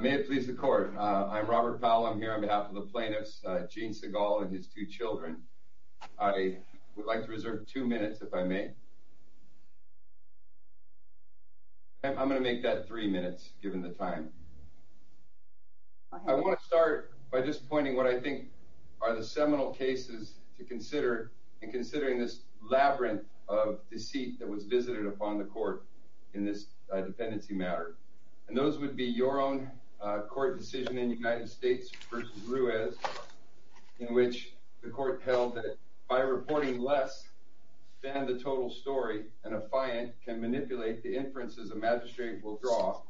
May it please the Court. I'm Robert Powell. I'm here on behalf of the plaintiffs, Gene Sigal and his two children. I would like to reserve two minutes, if I may. I'm going to make that three minutes, given the time. I want to start by just pointing what I think are the seminal cases to consider, and considering this labyrinth of deceit that was visited upon the Court in this dependency matter. And those would be your own court decision in United States v. Ruiz, in which the Court held that by reporting less than the total story, an affiant can manipulate the inferences a magistrate will draw.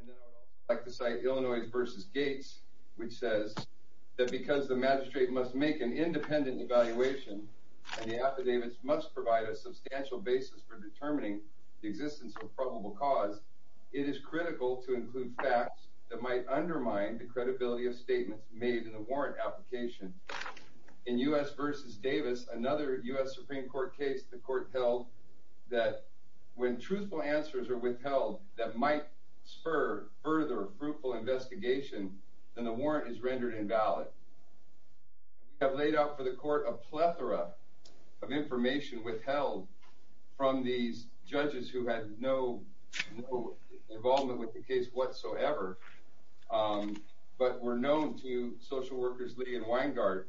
And then I would like to cite Illinois v. Gates, which says that because the magistrate must make an independent evaluation, and the affidavits must provide a substantial basis for determining the existence of probable cause, it is critical to include facts that might undermine the credibility of statements made in the warrant application. In U.S. v. Davis, another U.S. Supreme Court case, the Court held that when truthful answers are withheld that might spur further fruitful investigation, then the warrant is rendered invalid. We have laid out for the Court a plethora of information withheld from these judges who had no involvement with the case whatsoever, but were known to social workers Lee and Weingart.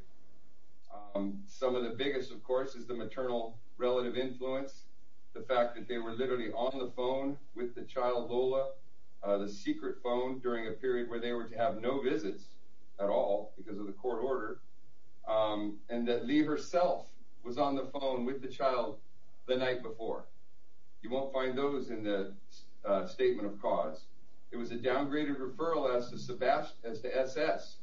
Some of the biggest, of course, is the maternal relative influence, the fact that they were literally on the phone with the child Lola, the secret phone, during a period where they were to have no visits at all because of the court order, and that Lee herself was on the phone with the child the night before. You won't find those in the statement of cause. It was a downgraded referral as to S.S.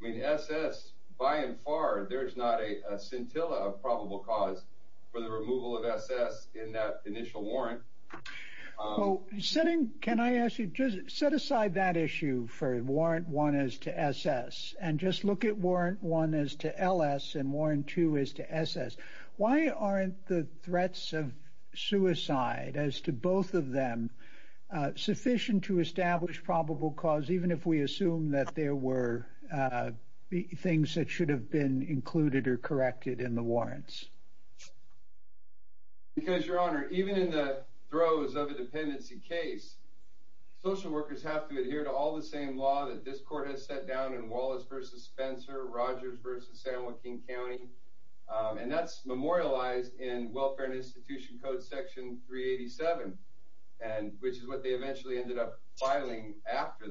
I mean, S.S., by and far, there's not a scintilla of probable cause for the removal of S.S. in that initial warrant. Well, can I ask you, just set aside that issue for warrant 1 as to S.S., and just look at warrant 1 as to L.S. and warrant 2 as to S.S. Why aren't the threats of suicide as to both of them sufficient to establish probable cause, even if we assume that there were things that should have been included or corrected in the warrants? Because, Your Honor, even in the throes of a dependency case, social workers have to adhere to all the same law that this court has set down in Wallace v. Spencer, Rogers v. San Joaquin County, and that's memorialized in Welfare and Institution Code Section 387, which is what they eventually ended up filing after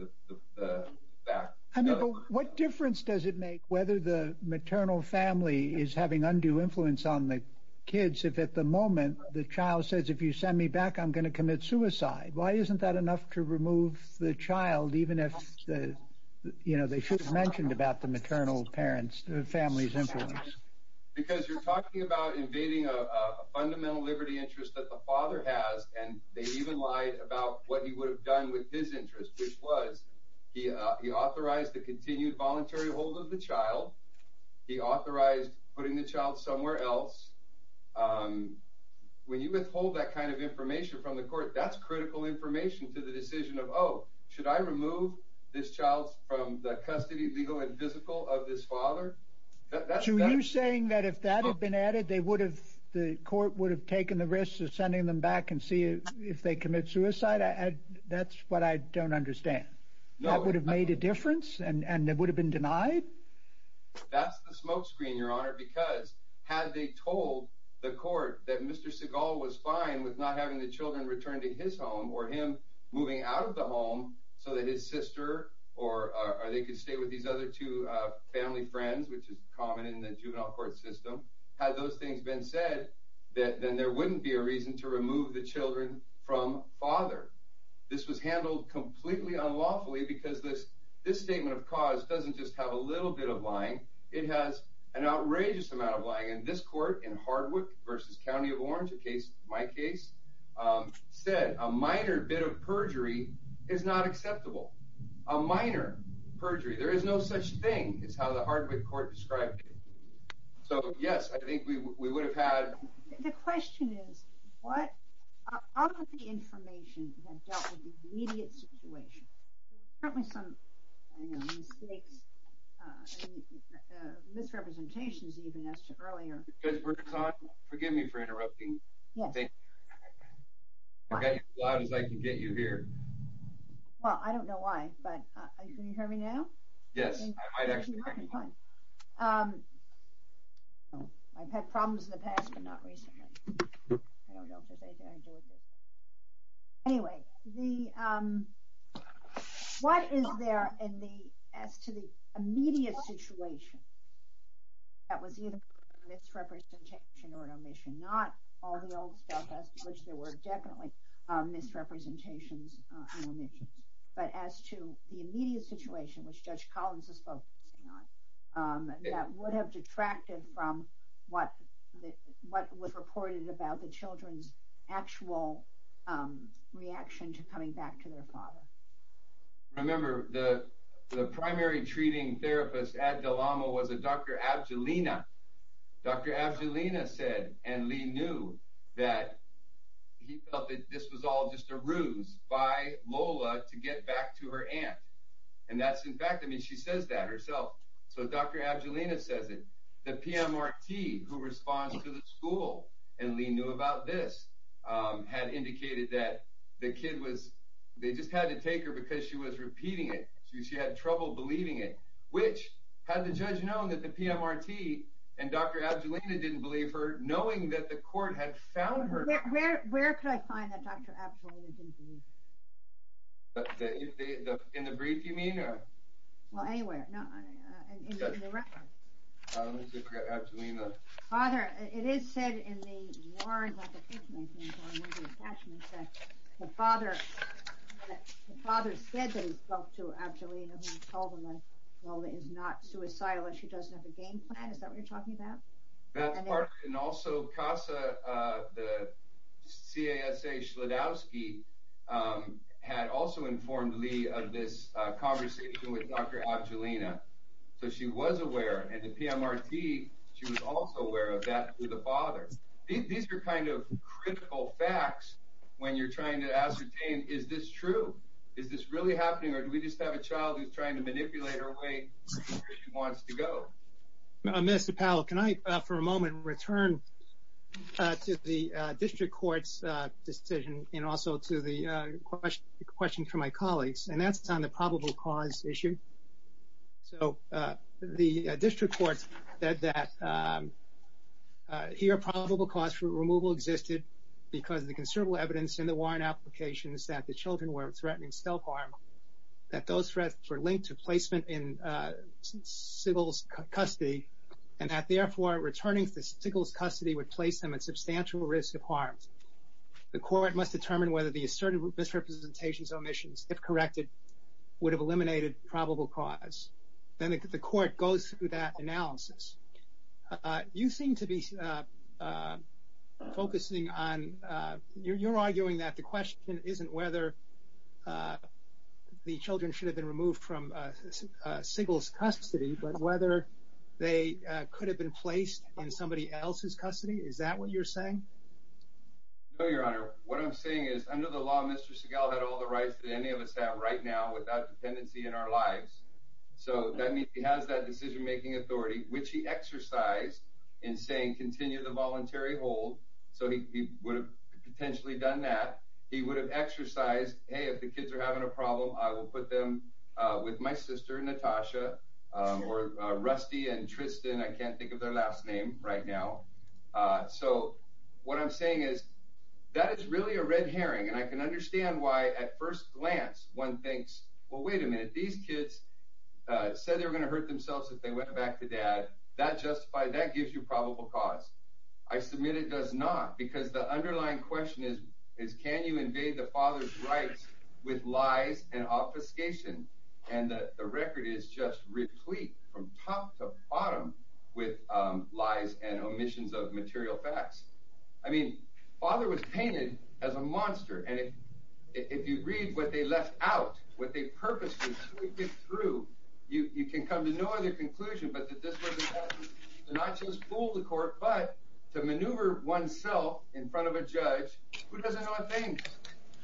the fact. I mean, but what difference does it make whether the maternal family is having undue influence on the kids if at the moment the child says, if you send me back, I'm going to commit suicide? Why isn't that enough to remove the child, even if, you know, they should have mentioned about the maternal parent's family's influence? Because you're talking about invading a fundamental liberty interest that the father has, and they even lied about what he would have done with his interest, which was he authorized the continued voluntary hold of the child. He authorized putting the child somewhere else. When you withhold that kind of information from the court, that's critical information to the decision of, oh, should I remove this child from the custody, legal and physical, of this father? So you're saying that if that had been added, they would have, the court would have taken the risk of sending them back and see if they commit suicide? That's what I don't understand. That would have made a difference, and they would have been denied? That's the smoke screen, Your Honor, because had they told the court that Mr. Segal was fine with not having the children return to his home or him moving out of the home so that his sister or they could stay with these other two family friends, which is common in the juvenile court system, had those things been said, then there wouldn't be a reason to remove the children from father. This was handled completely unlawfully because this statement of cause doesn't just have a little bit of lying. It has an outrageous amount of lying, and this court in Hardwick v. County of Orange, my case, said a minor bit of perjury is not acceptable, a minor perjury. There is no such thing is how the Hardwick court described it. So, yes, I think we would have had... The question is, what of the information that dealt with the immediate situation? There were certainly some mistakes, misrepresentations even, as to earlier. Ms. Burton, forgive me for interrupting. Yes. I'm getting as loud as I can get you here. Well, I don't know why, but can you hear me now? Yes, I might actually hear you. Okay, fine. I've had problems in the past, but not recently. I don't know if there's anything I can do with this. Anyway, what is there as to the immediate situation that was either a misrepresentation or an omission? Not all the old stuff, as to which there were definitely misrepresentations and omissions, but as to the immediate situation, which Judge Collins is focusing on, that would have detracted from what was reported about the children's actual reaction to coming back to their father. Remember, the primary treating therapist at DeLama was a Dr. Abdullina. Dr. Abdullina said, and Lee knew, that he felt that this was all just a ruse by Lola to get back to her aunt. And that's in fact, I mean, she says that herself. So Dr. Abdullina says it. The PMRT, who responds to the school, and Lee knew about this, had indicated that the kid was, they just had to take her because she was repeating it. She had trouble believing it, which had the judge known that the PMRT and Dr. Abdullina didn't believe her, knowing that the court had found her. Where could I find that Dr. Abdullina didn't believe her? In the brief, you mean? Well, anywhere. In the record. Dr. Abdullina. Father, it is said in the warrant application that the father said that he spoke to Abdullina and told her that Lola is not suicidal and she doesn't have a game plan. Is that what you're talking about? And also CASA, the CASA Shlodowsky, had also informed Lee of this conversation with Dr. Abdullina. So she was aware. And the PMRT, she was also aware of that through the father. These are kind of critical facts when you're trying to ascertain, is this true? Is this really happening, or do we just have a child who's trying to manipulate her way where she wants to go? Mr. Powell, can I, for a moment, return to the district court's decision and also to the question from my colleagues? And that's on the probable cause issue. So the district court said that here probable cause for removal existed because the considerable evidence in the warrant application is that the children were threatening self-harm, that those threats were linked to placement in Siegel's custody, and that therefore returning to Siegel's custody would place them at substantial risk of harm. The court must determine whether the asserted misrepresentations or omissions, if corrected, would have eliminated probable cause. Then the court goes through that analysis. You seem to be focusing on, you're arguing that the question isn't whether the children should have been removed from Siegel's custody, but whether they could have been placed in somebody else's custody. Is that what you're saying? No, Your Honor. What I'm saying is under the law, Mr. Siegel had all the rights that any of us have right now without dependency in our lives. So that means he has that decision-making authority, which he exercised in saying continue the voluntary hold. So he would have potentially done that. He would have exercised, hey, if the kids are having a problem, I will put them with my sister, Natasha, or Rusty and Tristan. I can't think of their last name right now. So what I'm saying is that is really a red herring, and I can understand why at first glance one thinks, well, wait a minute. These kids said they were going to hurt themselves if they went back to dad. That gives you probable cause. I submit it does not because the underlying question is, can you invade the father's rights with lies and obfuscation? And the record is just replete from top to bottom with lies and omissions of material facts. I mean, father was painted as a monster. And if you read what they left out, what they purposely squeaked it through, you can come to no other conclusion but that this was an attempt to not just fool the court but to maneuver oneself in front of a judge who doesn't know a thing,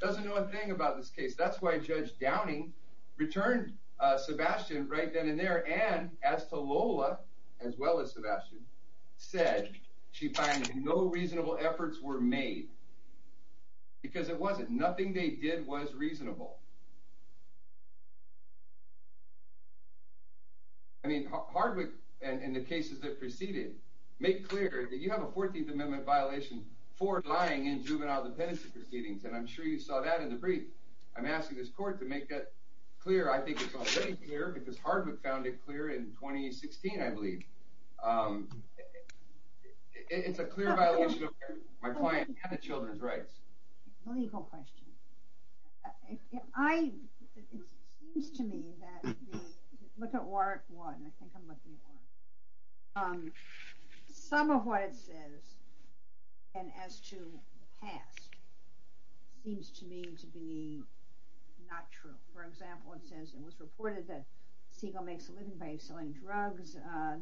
doesn't know a thing about this case. That's why Judge Downing returned Sebastian right then and there and as to Lola, as well as Sebastian, said she finds no reasonable efforts were made because it wasn't. Nothing they did was reasonable. I mean, Hardwick and the cases that preceded make clear that you have a 14th Amendment violation for lying in juvenile dependency proceedings. And I'm sure you saw that in the brief. I'm asking this court to make that clear. I think it's already clear because Hardwick found it clear in 2016, I believe. It's a clear violation of my client and the children's rights. Legal question. It seems to me that the, look at Warwick 1. I think I'm looking at Warwick. Some of what it says, and as to the past, seems to me to be not true. For example, it says it was reported that Siegel makes a living by selling drugs.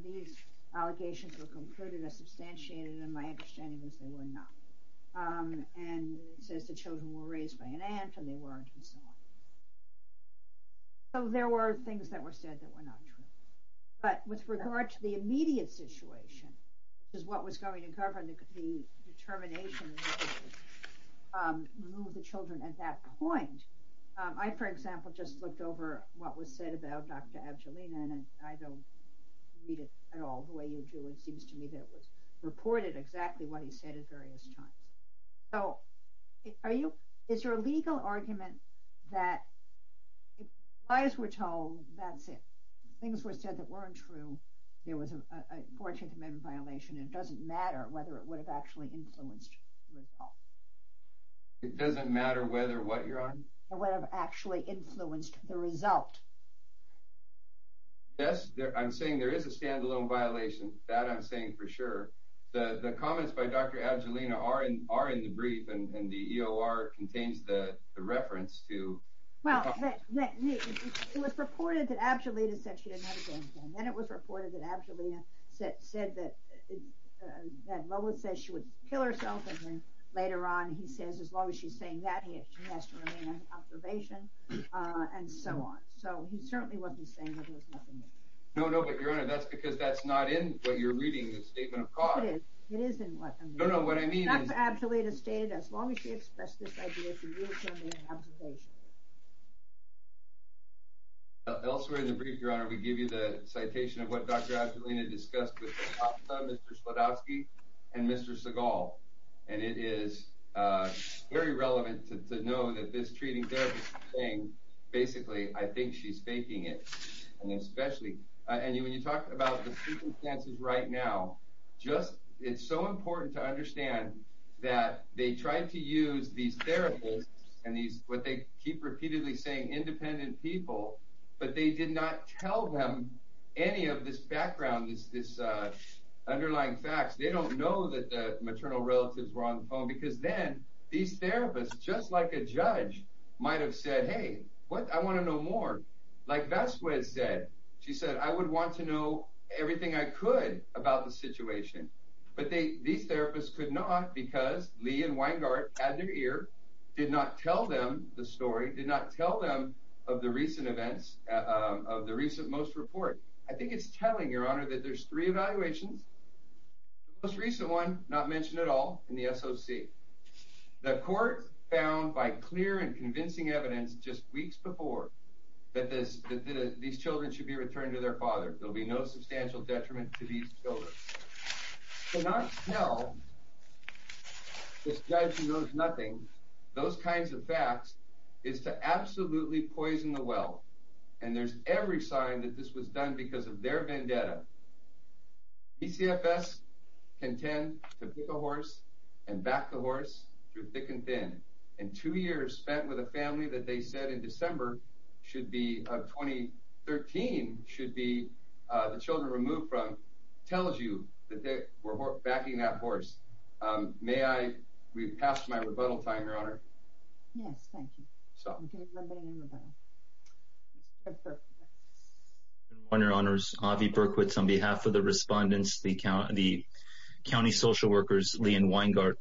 These allegations were concluded as substantiated, and my understanding is they were not. And it says the children were raised by an aunt, and they weren't, and so on. So there were things that were said that were not true. But with regard to the immediate situation, which is what was going to govern the determination to remove the children at that point, I, for example, just looked over what was said about Dr. Avgelina, and I don't read it at all the way you do. It seems to me that it was reported exactly what he said at various times. So, are you, is your legal argument that if lies were told, that's it? If things were said that weren't true, there was a 14th Amendment violation, and it doesn't matter whether it would have actually influenced the result. It doesn't matter whether what you're arguing? It would have actually influenced the result. Yes, I'm saying there is a stand-alone violation. That I'm saying for sure. The comments by Dr. Avgelina are in the brief, and the EOR contains the reference to... Well, it was reported that Avgelina said she didn't have a game plan. Then it was reported that Avgelina said that Lola says she would kill herself, and then later on he says as long as she's saying that, she has to remain under observation, and so on. So, he certainly wasn't saying that there was nothing there. No, no, but Your Honor, that's because that's not in what you're reading, the statement of cause. No, it is. It is in what I'm reading. No, no, what I mean is... That's what Avgelina stated, as long as she expressed this idea, she will remain under observation. Elsewhere in the brief, Your Honor, we give you the citation of what Dr. Avgelina discussed with Mr. Slodowski and Mr. Sehgal. And it is very relevant to know that this treating therapist thing, basically, I think she's faking it. And especially, when you talk about the circumstances right now, it's so important to understand that they tried to use these therapists, and what they keep repeatedly saying, independent people, but they did not tell them any of this background, this underlying facts. They don't know that the maternal relatives were on the phone, because then, these therapists, just like a judge, might have said, hey, what, I want to know more. Like Vasquez said, she said, I would want to know everything I could about the situation. But these therapists could not, because Lee and Weingart had their ear, did not tell them the story, did not tell them of the recent events, of the recent most report. I think it's telling, Your Honor, that there's three evaluations. The most recent one, not mentioned at all, in the SOC. The court found, by clear and convincing evidence just weeks before, that these children should be returned to their father. There will be no substantial detriment to these children. To not tell this judge who knows nothing, those kinds of facts, is to absolutely poison the well. And there's every sign that this was done because of their vendetta. ECFS can tend to pick a horse and back the horse through thick and thin. And two years spent with a family that they said in December 2013 should be the children removed from, tells you that they were backing that horse. May I, we've passed my rebuttal time, Your Honor. Yes, thank you. Your Honor, it's Avi Berkowitz on behalf of the respondents, the county social workers, Lee and Weingart.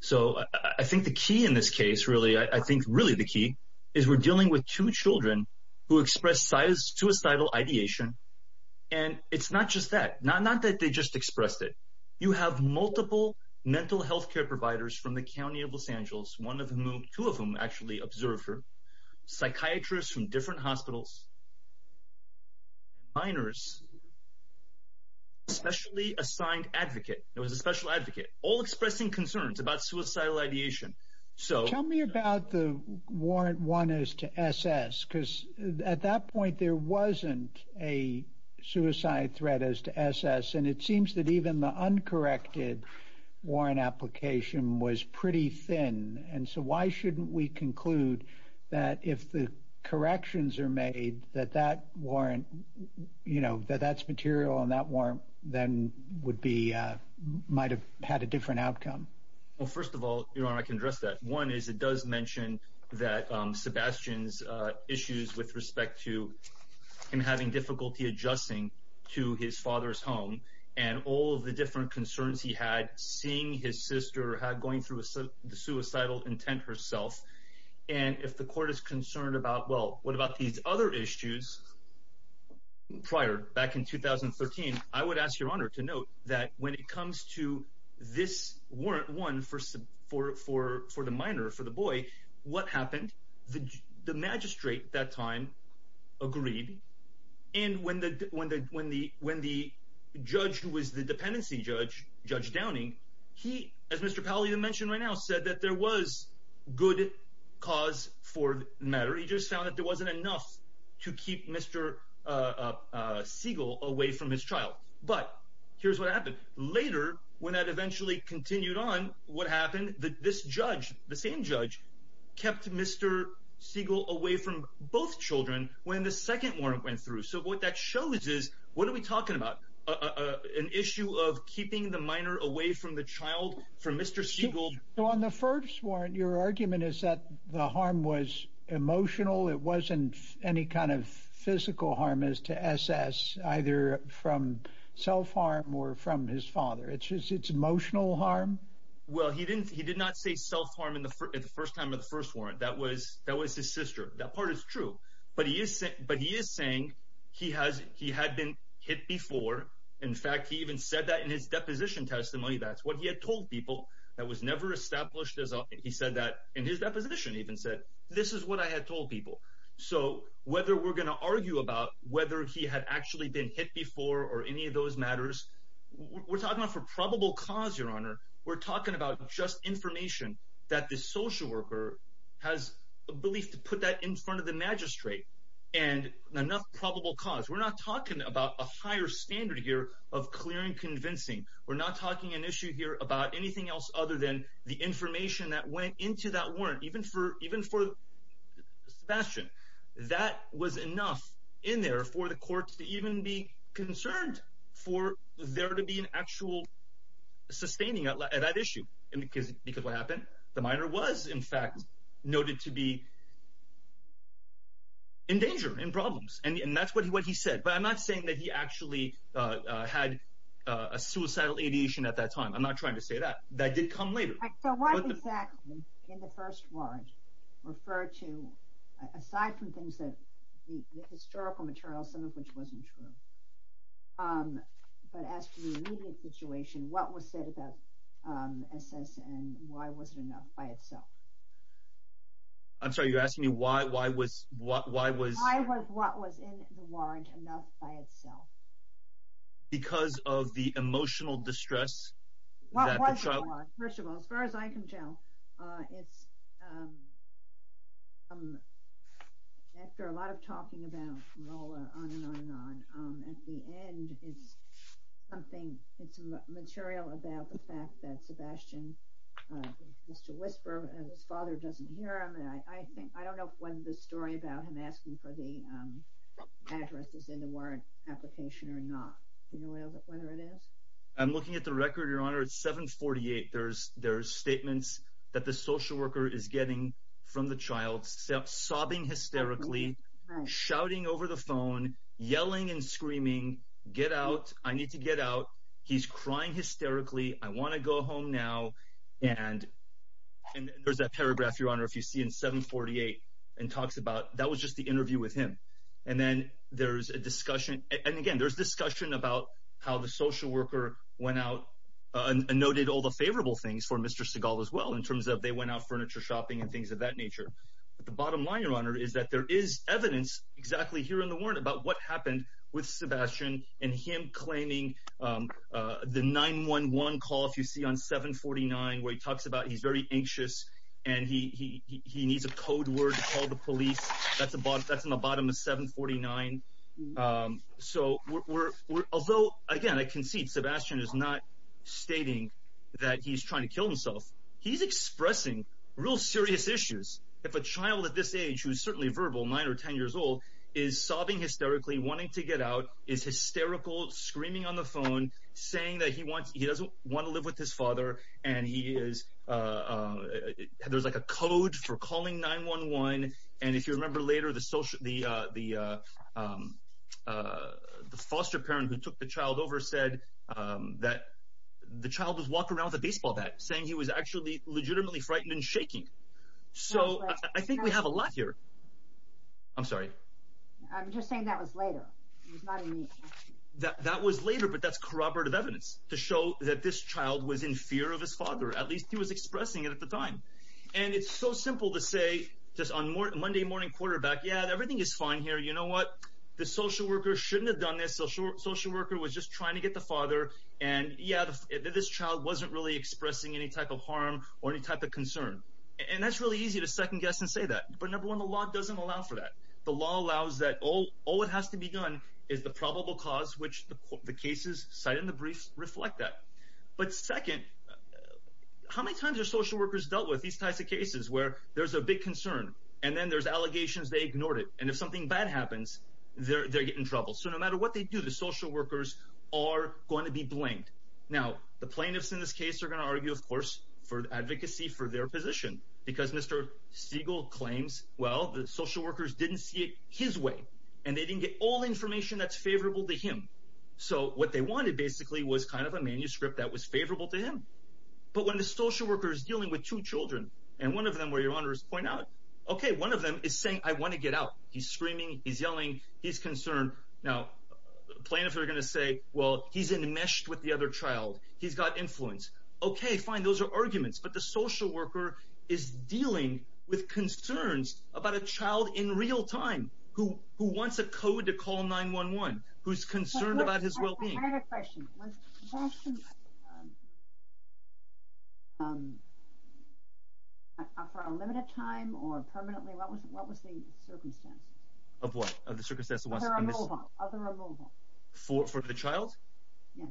So I think the key in this case, really, I think really the key, is we're dealing with two children who expressed suicidal ideation. And it's not just that, not that they just expressed it. You have multiple mental health care providers from the county of Los Angeles, one of whom, two of whom actually observed her. Psychiatrists from different hospitals, minors, a specially assigned advocate, there was a special advocate, all expressing concerns about suicidal ideation. Tell me about the Warrant 1 as to SS. Because at that point there wasn't a suicide threat as to SS. And it seems that even the uncorrected warrant application was pretty thin. And so why shouldn't we conclude that if the corrections are made, that that warrant, you know, that that's material and that warrant then would be, might have had a different outcome? Well, first of all, Your Honor, I can address that. One is it does mention that Sebastian's issues with respect to him having difficulty adjusting to his father's home and all of the different concerns he had, seeing his sister, going through the suicidal intent herself. And if the court is concerned about, well, what about these other issues prior, back in 2013, I would ask Your Honor to note that when it comes to this Warrant 1 for the minor, for the boy, what happened, the magistrate at that time agreed. And when the judge who was the dependency judge, Judge Downing, he, as Mr. Powell even mentioned right now, said that there was good cause for matter. He just found that there wasn't enough to keep Mr. Siegel away from his child. But here's what happened. Later, when that eventually continued on, what happened, this judge, the same judge, kept Mr. Siegel away from both children when the second warrant went through. So what that shows is, what are we talking about? An issue of keeping the minor away from the child from Mr. Siegel? So on the first warrant, your argument is that the harm was emotional. It wasn't any kind of physical harm as to SS, either from self-harm or from his father. It's emotional harm? Well, he did not say self-harm at the first time of the first warrant. That was his sister. That part is true. But he is saying he had been hit before. In fact, he even said that in his deposition testimony. That's what he had told people. That was never established. He said that in his deposition. He even said, this is what I had told people. So whether we're going to argue about whether he had actually been hit before or any of those matters, we're talking about for probable cause, Your Honor. We're talking about just information that the social worker has a belief to put that in front of the magistrate and enough probable cause. We're not talking about a higher standard here of clearing convincing. We're not talking an issue here about anything else other than the information that went into that warrant, even for Sebastian. That was enough in there for the courts to even be concerned for there to be an actual sustaining at that issue. Because what happened? The minor was, in fact, noted to be in danger, in problems. And that's what he said. But I'm not saying that he actually had a suicidal ideation at that time. I'm not trying to say that. That did come later. So what exactly in the first warrant referred to, aside from things, the historical materials, some of which wasn't true, but as to the immediate situation, what was said about SS and why was it enough by itself? I'm sorry, you're asking me why was— Why was what was in the warrant enough by itself? Because of the emotional distress that the child— What was in the warrant? First of all, as far as I can tell, it's after a lot of talking about Lola on and on and on. At the end, it's material about the fact that Sebastian, Mr. Whisper, his father doesn't hear him. I don't know whether the story about him asking for the address is in the warrant application or not. Do you know whether it is? I'm looking at the record, Your Honor. It's 7-48. There are statements that the social worker is getting from the child, sobbing hysterically, shouting over the phone, yelling and screaming, get out, I need to get out. He's crying hysterically. I want to go home now. And there's that paragraph, Your Honor, if you see in 7-48, and talks about that was just the interview with him. And then there's a discussion. And, again, there's discussion about how the social worker went out and noted all the favorable things for Mr. Seagal as well, in terms of they went out furniture shopping and things of that nature. The bottom line, Your Honor, is that there is evidence exactly here in the warrant about what happened with Sebastian and him claiming the 911 call, if you see on 7-49, where he talks about he's very anxious and he needs a code word to call the police. That's in the bottom of 7-49. So although, again, I concede Sebastian is not stating that he's trying to kill himself, he's expressing real serious issues. If a child at this age, who is certainly verbal, 9 or 10 years old, is sobbing hysterically, wanting to get out, is hysterical, screaming on the phone, saying that he doesn't want to live with his father, and there's like a code for calling 911. And if you remember later, the foster parent who took the child over said that the child was walking around with a baseball bat, saying he was actually legitimately frightened and shaking. So I think we have a lot here. I'm sorry. I'm just saying that was later. That was later, but that's corroborative evidence to show that this child was in fear of his father. At least he was expressing it at the time. And it's so simple to say, just on Monday morning quarterback, yeah, everything is fine here, you know what? The social worker shouldn't have done this. The social worker was just trying to get the father, and yeah, this child wasn't really expressing any type of harm or any type of concern. And that's really easy to second-guess and say that. But number one, the law doesn't allow for that. The law allows that all that has to be done is the probable cause, which the cases cited in the brief reflect that. But second, how many times have social workers dealt with these types of cases where there's a big concern, and then there's allegations they ignored it, and if something bad happens, they get in trouble. So no matter what they do, the social workers are going to be blamed. Now, the plaintiffs in this case are going to argue, of course, for advocacy for their position, because Mr. Siegel claims, well, the social workers didn't see it his way, and they didn't get all the information that's favorable to him. So what they wanted, basically, was kind of a manuscript that was favorable to him. But when the social worker is dealing with two children, and one of them, where your Honor is pointing out, okay, one of them is saying, I want to get out. He's screaming, he's yelling, he's concerned. Now, plaintiffs are going to say, well, he's enmeshed with the other child. He's got influence. Okay, fine, those are arguments. But the social worker is dealing with concerns about a child in real time who wants a code to call 911, who's concerned about his well-being. I have a question. For a limited time or permanently, what was the circumstance? Of what? Of the circumstance of what? Of the removal. For the child? Yes.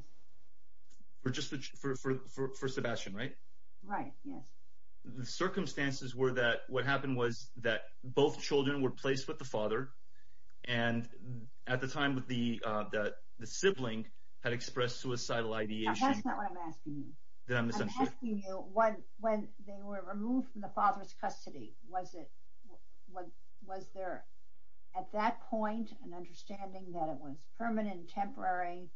For Sebastian, right? Right, yes. The circumstances were that what happened was that both children were placed with the father, and at the time the sibling had expressed suicidal ideation. That's not what I'm asking you. I'm asking you, when they were removed from the father's custody, was there at that point an understanding that it was permanent, temporary,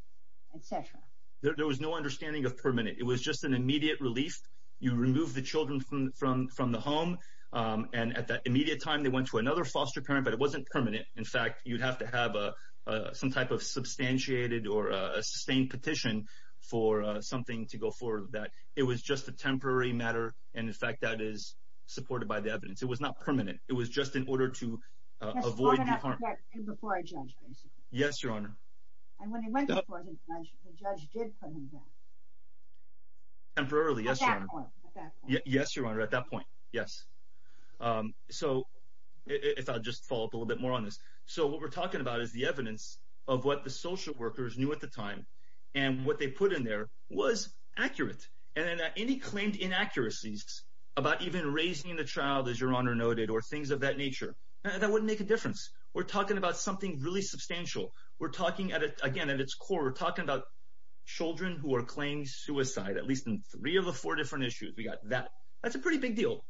et cetera? There was no understanding of permanent. It was just an immediate relief. You remove the children from the home, and at that immediate time, they went to another foster parent, but it wasn't permanent. In fact, you'd have to have some type of substantiated or sustained petition for something to go forward with that. It was just a temporary matter, and, in fact, that is supported by the evidence. It was not permanent. It was just in order to avoid the harm. Before a judge, basically. Yes, Your Honor. And when he went before the judge, the judge did put him back. Temporarily, yes, Your Honor. At that point. Yes, Your Honor, at that point, yes. So if I'll just follow up a little bit more on this. So what we're talking about is the evidence of what the social workers knew at the time, and what they put in there was accurate. And any claimed inaccuracies about even raising the child, as Your Honor noted, or things of that nature, that wouldn't make a difference. We're talking about something really substantial. We're talking, again, at its core, we're talking about children who are claimed suicide, at least in three of the four different issues. We got that. That's a pretty big deal.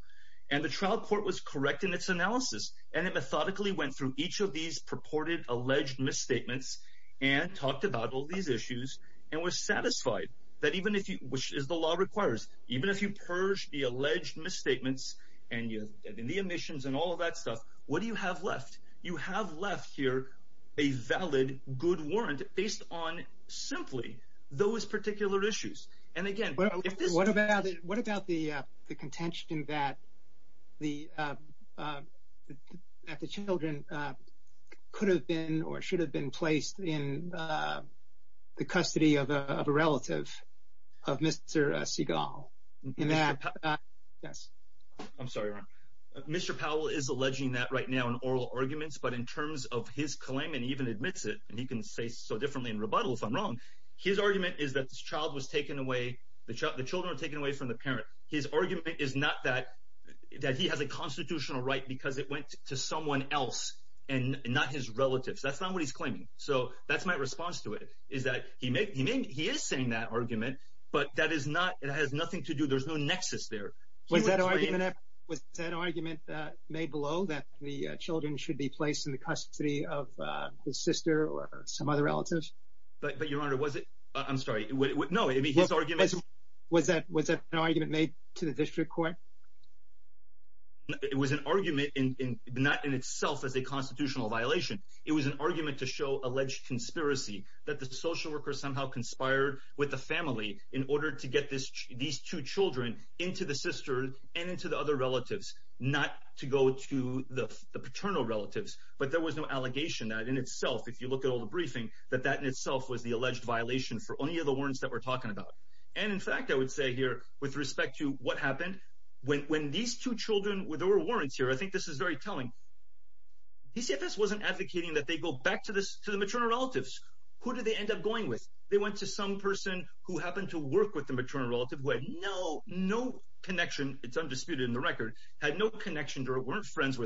And the trial court was correct in its analysis, and it methodically went through each of these purported alleged misstatements and talked about all these issues and was satisfied that even if you, which is the law requires, even if you purge the alleged misstatements and the omissions and all of that stuff, what do you have left? You have left here a valid good warrant based on simply those particular issues. What about the contention that the children could have been or should have been placed in the custody of a relative of Mr. Seagal? I'm sorry, Your Honor. Mr. Powell is alleging that right now in oral arguments, but in terms of his claim and even admits it, and he can say so differently in rebuttal if I'm wrong, his argument is that the child was taken away, the children were taken away from the parent. His argument is not that he has a constitutional right because it went to someone else and not his relatives. That's not what he's claiming. So that's my response to it is that he is saying that argument, but that has nothing to do, there's no nexus there. Was that argument made below that the children should be placed in the custody of his sister or some other relative? But, Your Honor, was it? I'm sorry. No. Was that an argument made to the district court? It was an argument not in itself as a constitutional violation. It was an argument to show alleged conspiracy that the social worker somehow conspired with the family in order to get these two children into the sister and into the other relatives, not to go to the paternal relatives. But there was no allegation that in itself, if you look at all the briefing, that that in itself was the alleged violation for any of the warrants that we're talking about. And, in fact, I would say here with respect to what happened, when these two children, there were warrants here, I think this is very telling, PCFS wasn't advocating that they go back to the maternal relatives. Who did they end up going with? They went to some person who happened to work with the maternal relative who had no connection, it's undisputed in the record, had no connection to her, wasn't friends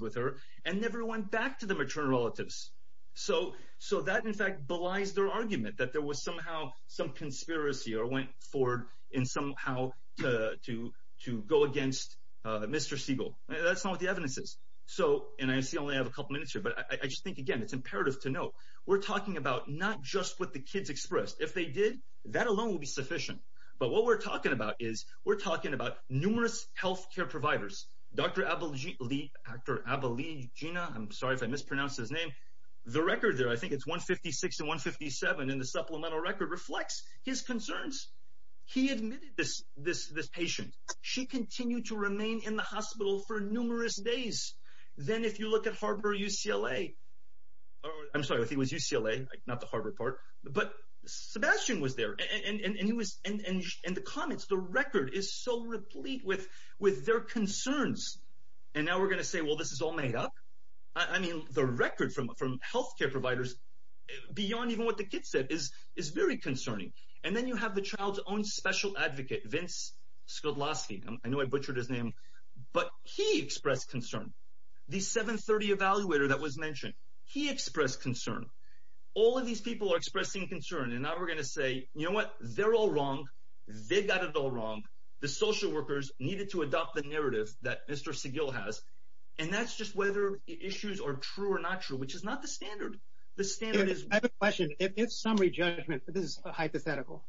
with her, and never went back to the maternal relatives. So that, in fact, belies their argument that there was somehow some conspiracy or went forward in somehow to go against Mr. Siegel. That's not what the evidence is. And I only have a couple minutes here, but I just think, again, it's imperative to note, we're talking about not just what the kids expressed. If they did, that alone would be sufficient. But what we're talking about is, we're talking about numerous health care providers. Dr. Abilegina, I'm sorry if I mispronounced his name, the record there, I think it's 156 and 157 in the supplemental record, reflects his concerns. He admitted this patient. She continued to remain in the hospital for numerous days. Then if you look at Harbor UCLA, I'm sorry, I think it was UCLA, not the Harbor part, but Sebastian was there, and the comments, the record is so replete with their concerns. And now we're going to say, well, this is all made up. I mean, the record from health care providers, beyond even what the kid said, is very concerning. And then you have the child's own special advocate, Vince Sklodloski. I know I butchered his name, but he expressed concern. The 730 evaluator that was mentioned, he expressed concern. All of these people are expressing concern, and now we're going to say, you know what? They're all wrong. They got it all wrong. The social workers needed to adopt the narrative that Mr. Seguil has, and that's just whether the issues are true or not true, which is not the standard. The standard is— I have a question. If summary judgment, this is hypothetical,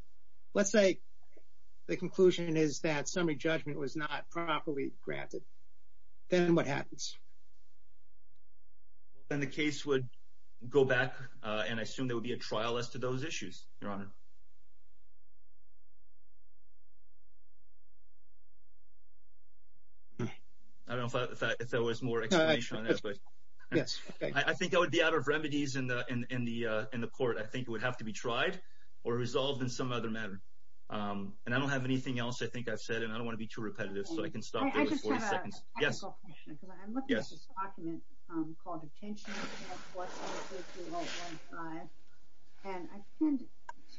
let's say the conclusion is that summary judgment was not properly granted, then what happens? Then the case would go back, and I assume there would be a trial as to those issues, Your Honor. I don't know if there was more explanation on that. Yes. I think it would be out of remedies in the court. I think it would have to be tried or resolved in some other manner. And I don't have anything else I think I've said, and I don't want to be too repetitive, so I can stop there with 40 seconds. I have a technical question, because I'm looking at this document called Detention Act 133015, and I can't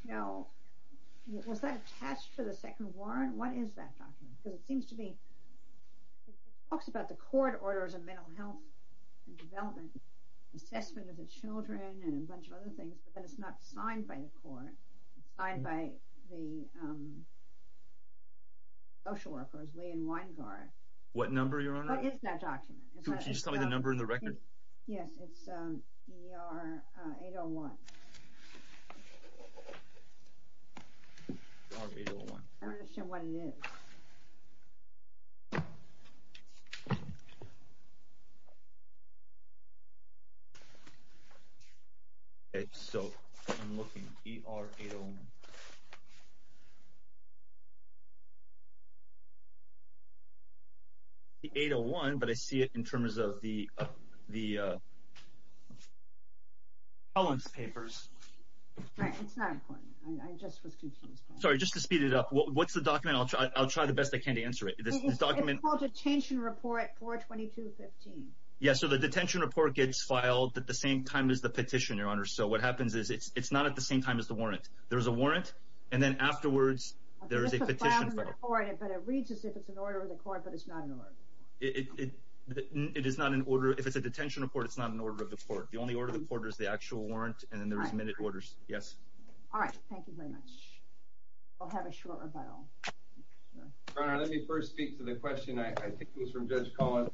tell—was that attached to the second warrant? What is that document? Because it seems to be—it talks about the court orders of mental health and development, assessment of the children and a bunch of other things, but then it's not signed by the court. It's signed by the social workers, Lee and Weingart. What number, Your Honor? What is that document? Can you just tell me the number and the record? Yes, it's ER801. ER801. I'm going to show what it is. Okay, so I'm looking. ER801. It's 801, but I see it in terms of the—the— The following papers. It's not important. I just was confused. Sorry, just to speed it up. What's the document? I'll try the best I can. I can't answer it. It's called Detention Report 42215. Yes, so the detention report gets filed at the same time as the petition, Your Honor. So what happens is it's not at the same time as the warrant. There's a warrant, and then afterwards there is a petition. But it reads as if it's an order of the court, but it's not an order. It is not an order. If it's a detention report, it's not an order of the court. The only order of the court is the actual warrant, and then there's minute orders. Yes. All right. Thank you very much. We'll have a short rebuttal. Your Honor, let me first speak to the question. I think it was from Judge Cohen.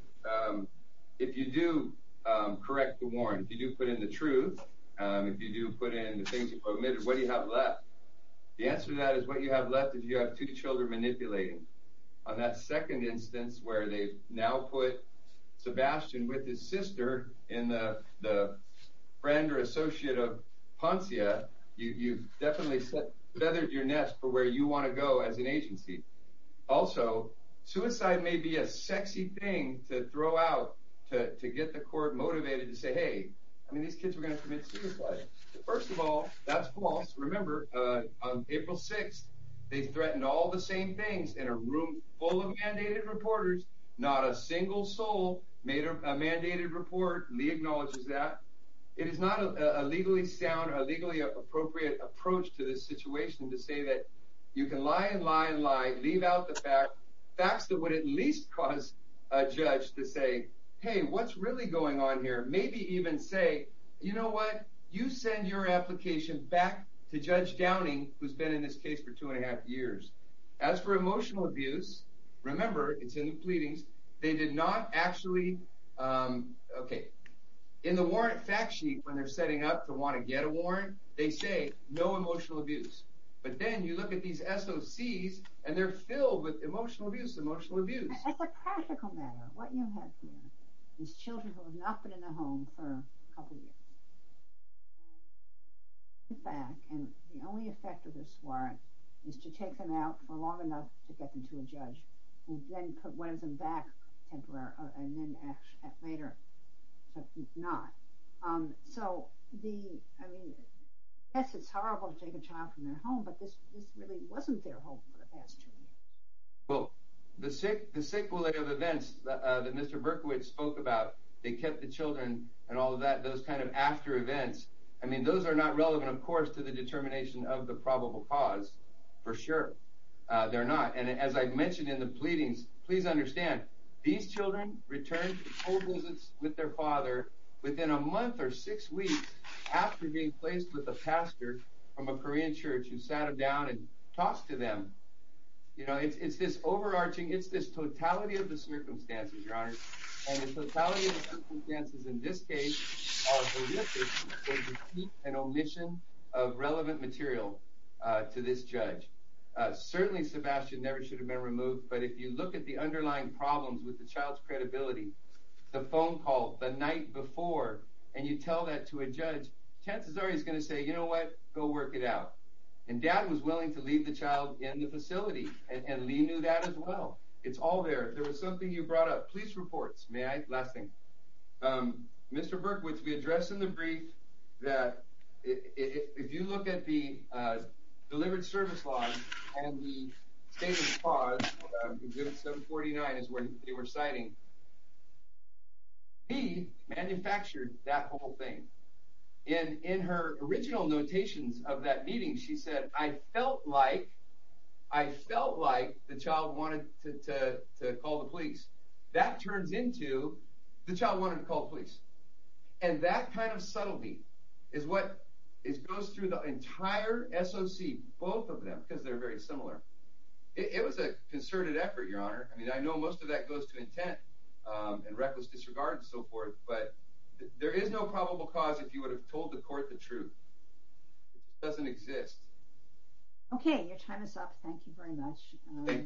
If you do correct the warrant, if you do put in the truth, if you do put in the things you've omitted, what do you have left? The answer to that is what you have left is you have two children manipulating. On that second instance where they've now put Sebastian with his sister in the friend or associate of Poncia, you've definitely feathered your nest for where you want to go as an agency. Also, suicide may be a sexy thing to throw out to get the court motivated to say, hey, I mean these kids were going to commit suicide. First of all, that's false. Remember, on April 6th they threatened all the same things in a room full of mandated reporters. Not a single soul made a mandated report. Lee acknowledges that. It is not a legally sound or a legally appropriate approach to this situation to say that you can lie and lie and lie, leave out the facts that would at least cause a judge to say, hey, what's really going on here? Maybe even say, you know what, you send your application back to Judge Downing, who's been in this case for two and a half years. As for emotional abuse, remember, it's in the pleadings. They did not actually, okay, in the warrant fact sheet when they're setting up to want to get a warrant, they say no emotional abuse. But then you look at these SOCs and they're filled with emotional abuse, emotional abuse. As a practical matter, what you have here is children who have not been in a home for a couple of years. And the only effect of this warrant is to take them out for long enough to get them to a judge, who then puts one of them back temporarily and then asks that later, but not. So, I mean, yes, it's horrible to take a child from their home, but this really wasn't their home for the past two years. Well, the sequelae of events that Mr. Berkowitz spoke about, they kept the children and all of that, those kind of after events, I mean, those are not relevant, of course, to the determination of the probable cause, for sure. They're not. And as I've mentioned in the pleadings, please understand, these children return to full visits with their father within a month or six weeks after being placed with a pastor from a Korean church who sat them down and talked to them. You know, it's this overarching, it's this totality of the circumstances, Your Honor, and the totality of the circumstances in this case are horrific, and you keep an omission of relevant material to this judge. Certainly, Sebastian never should have been removed, but if you look at the underlying problems with the child's credibility, the phone call the night before, and you tell that to a judge, chances are he's going to say, you know what, go work it out. And Dad was willing to leave the child in the facility, and Lee knew that as well. It's all there. There was something you brought up. Police reports. May I? Last thing. Mr. Berkowitz, we addressed in the brief that if you look at the delivered service law and the state of the law, 749 is where they were citing, Lee manufactured that whole thing. In her original notations of that meeting, she said, I felt like the child wanted to call the police. That turns into the child wanted to call the police. And that kind of subtlety is what goes through the entire SOC, both of them, because they're very similar. It was a concerted effort, Your Honor. I mean, I know most of that goes to intent and reckless disregard and so forth, but there is no probable cause if you would have told the court the truth. It doesn't exist. Okay, your time is up. Thank you very much. Thank you, Your Honor. Thank you.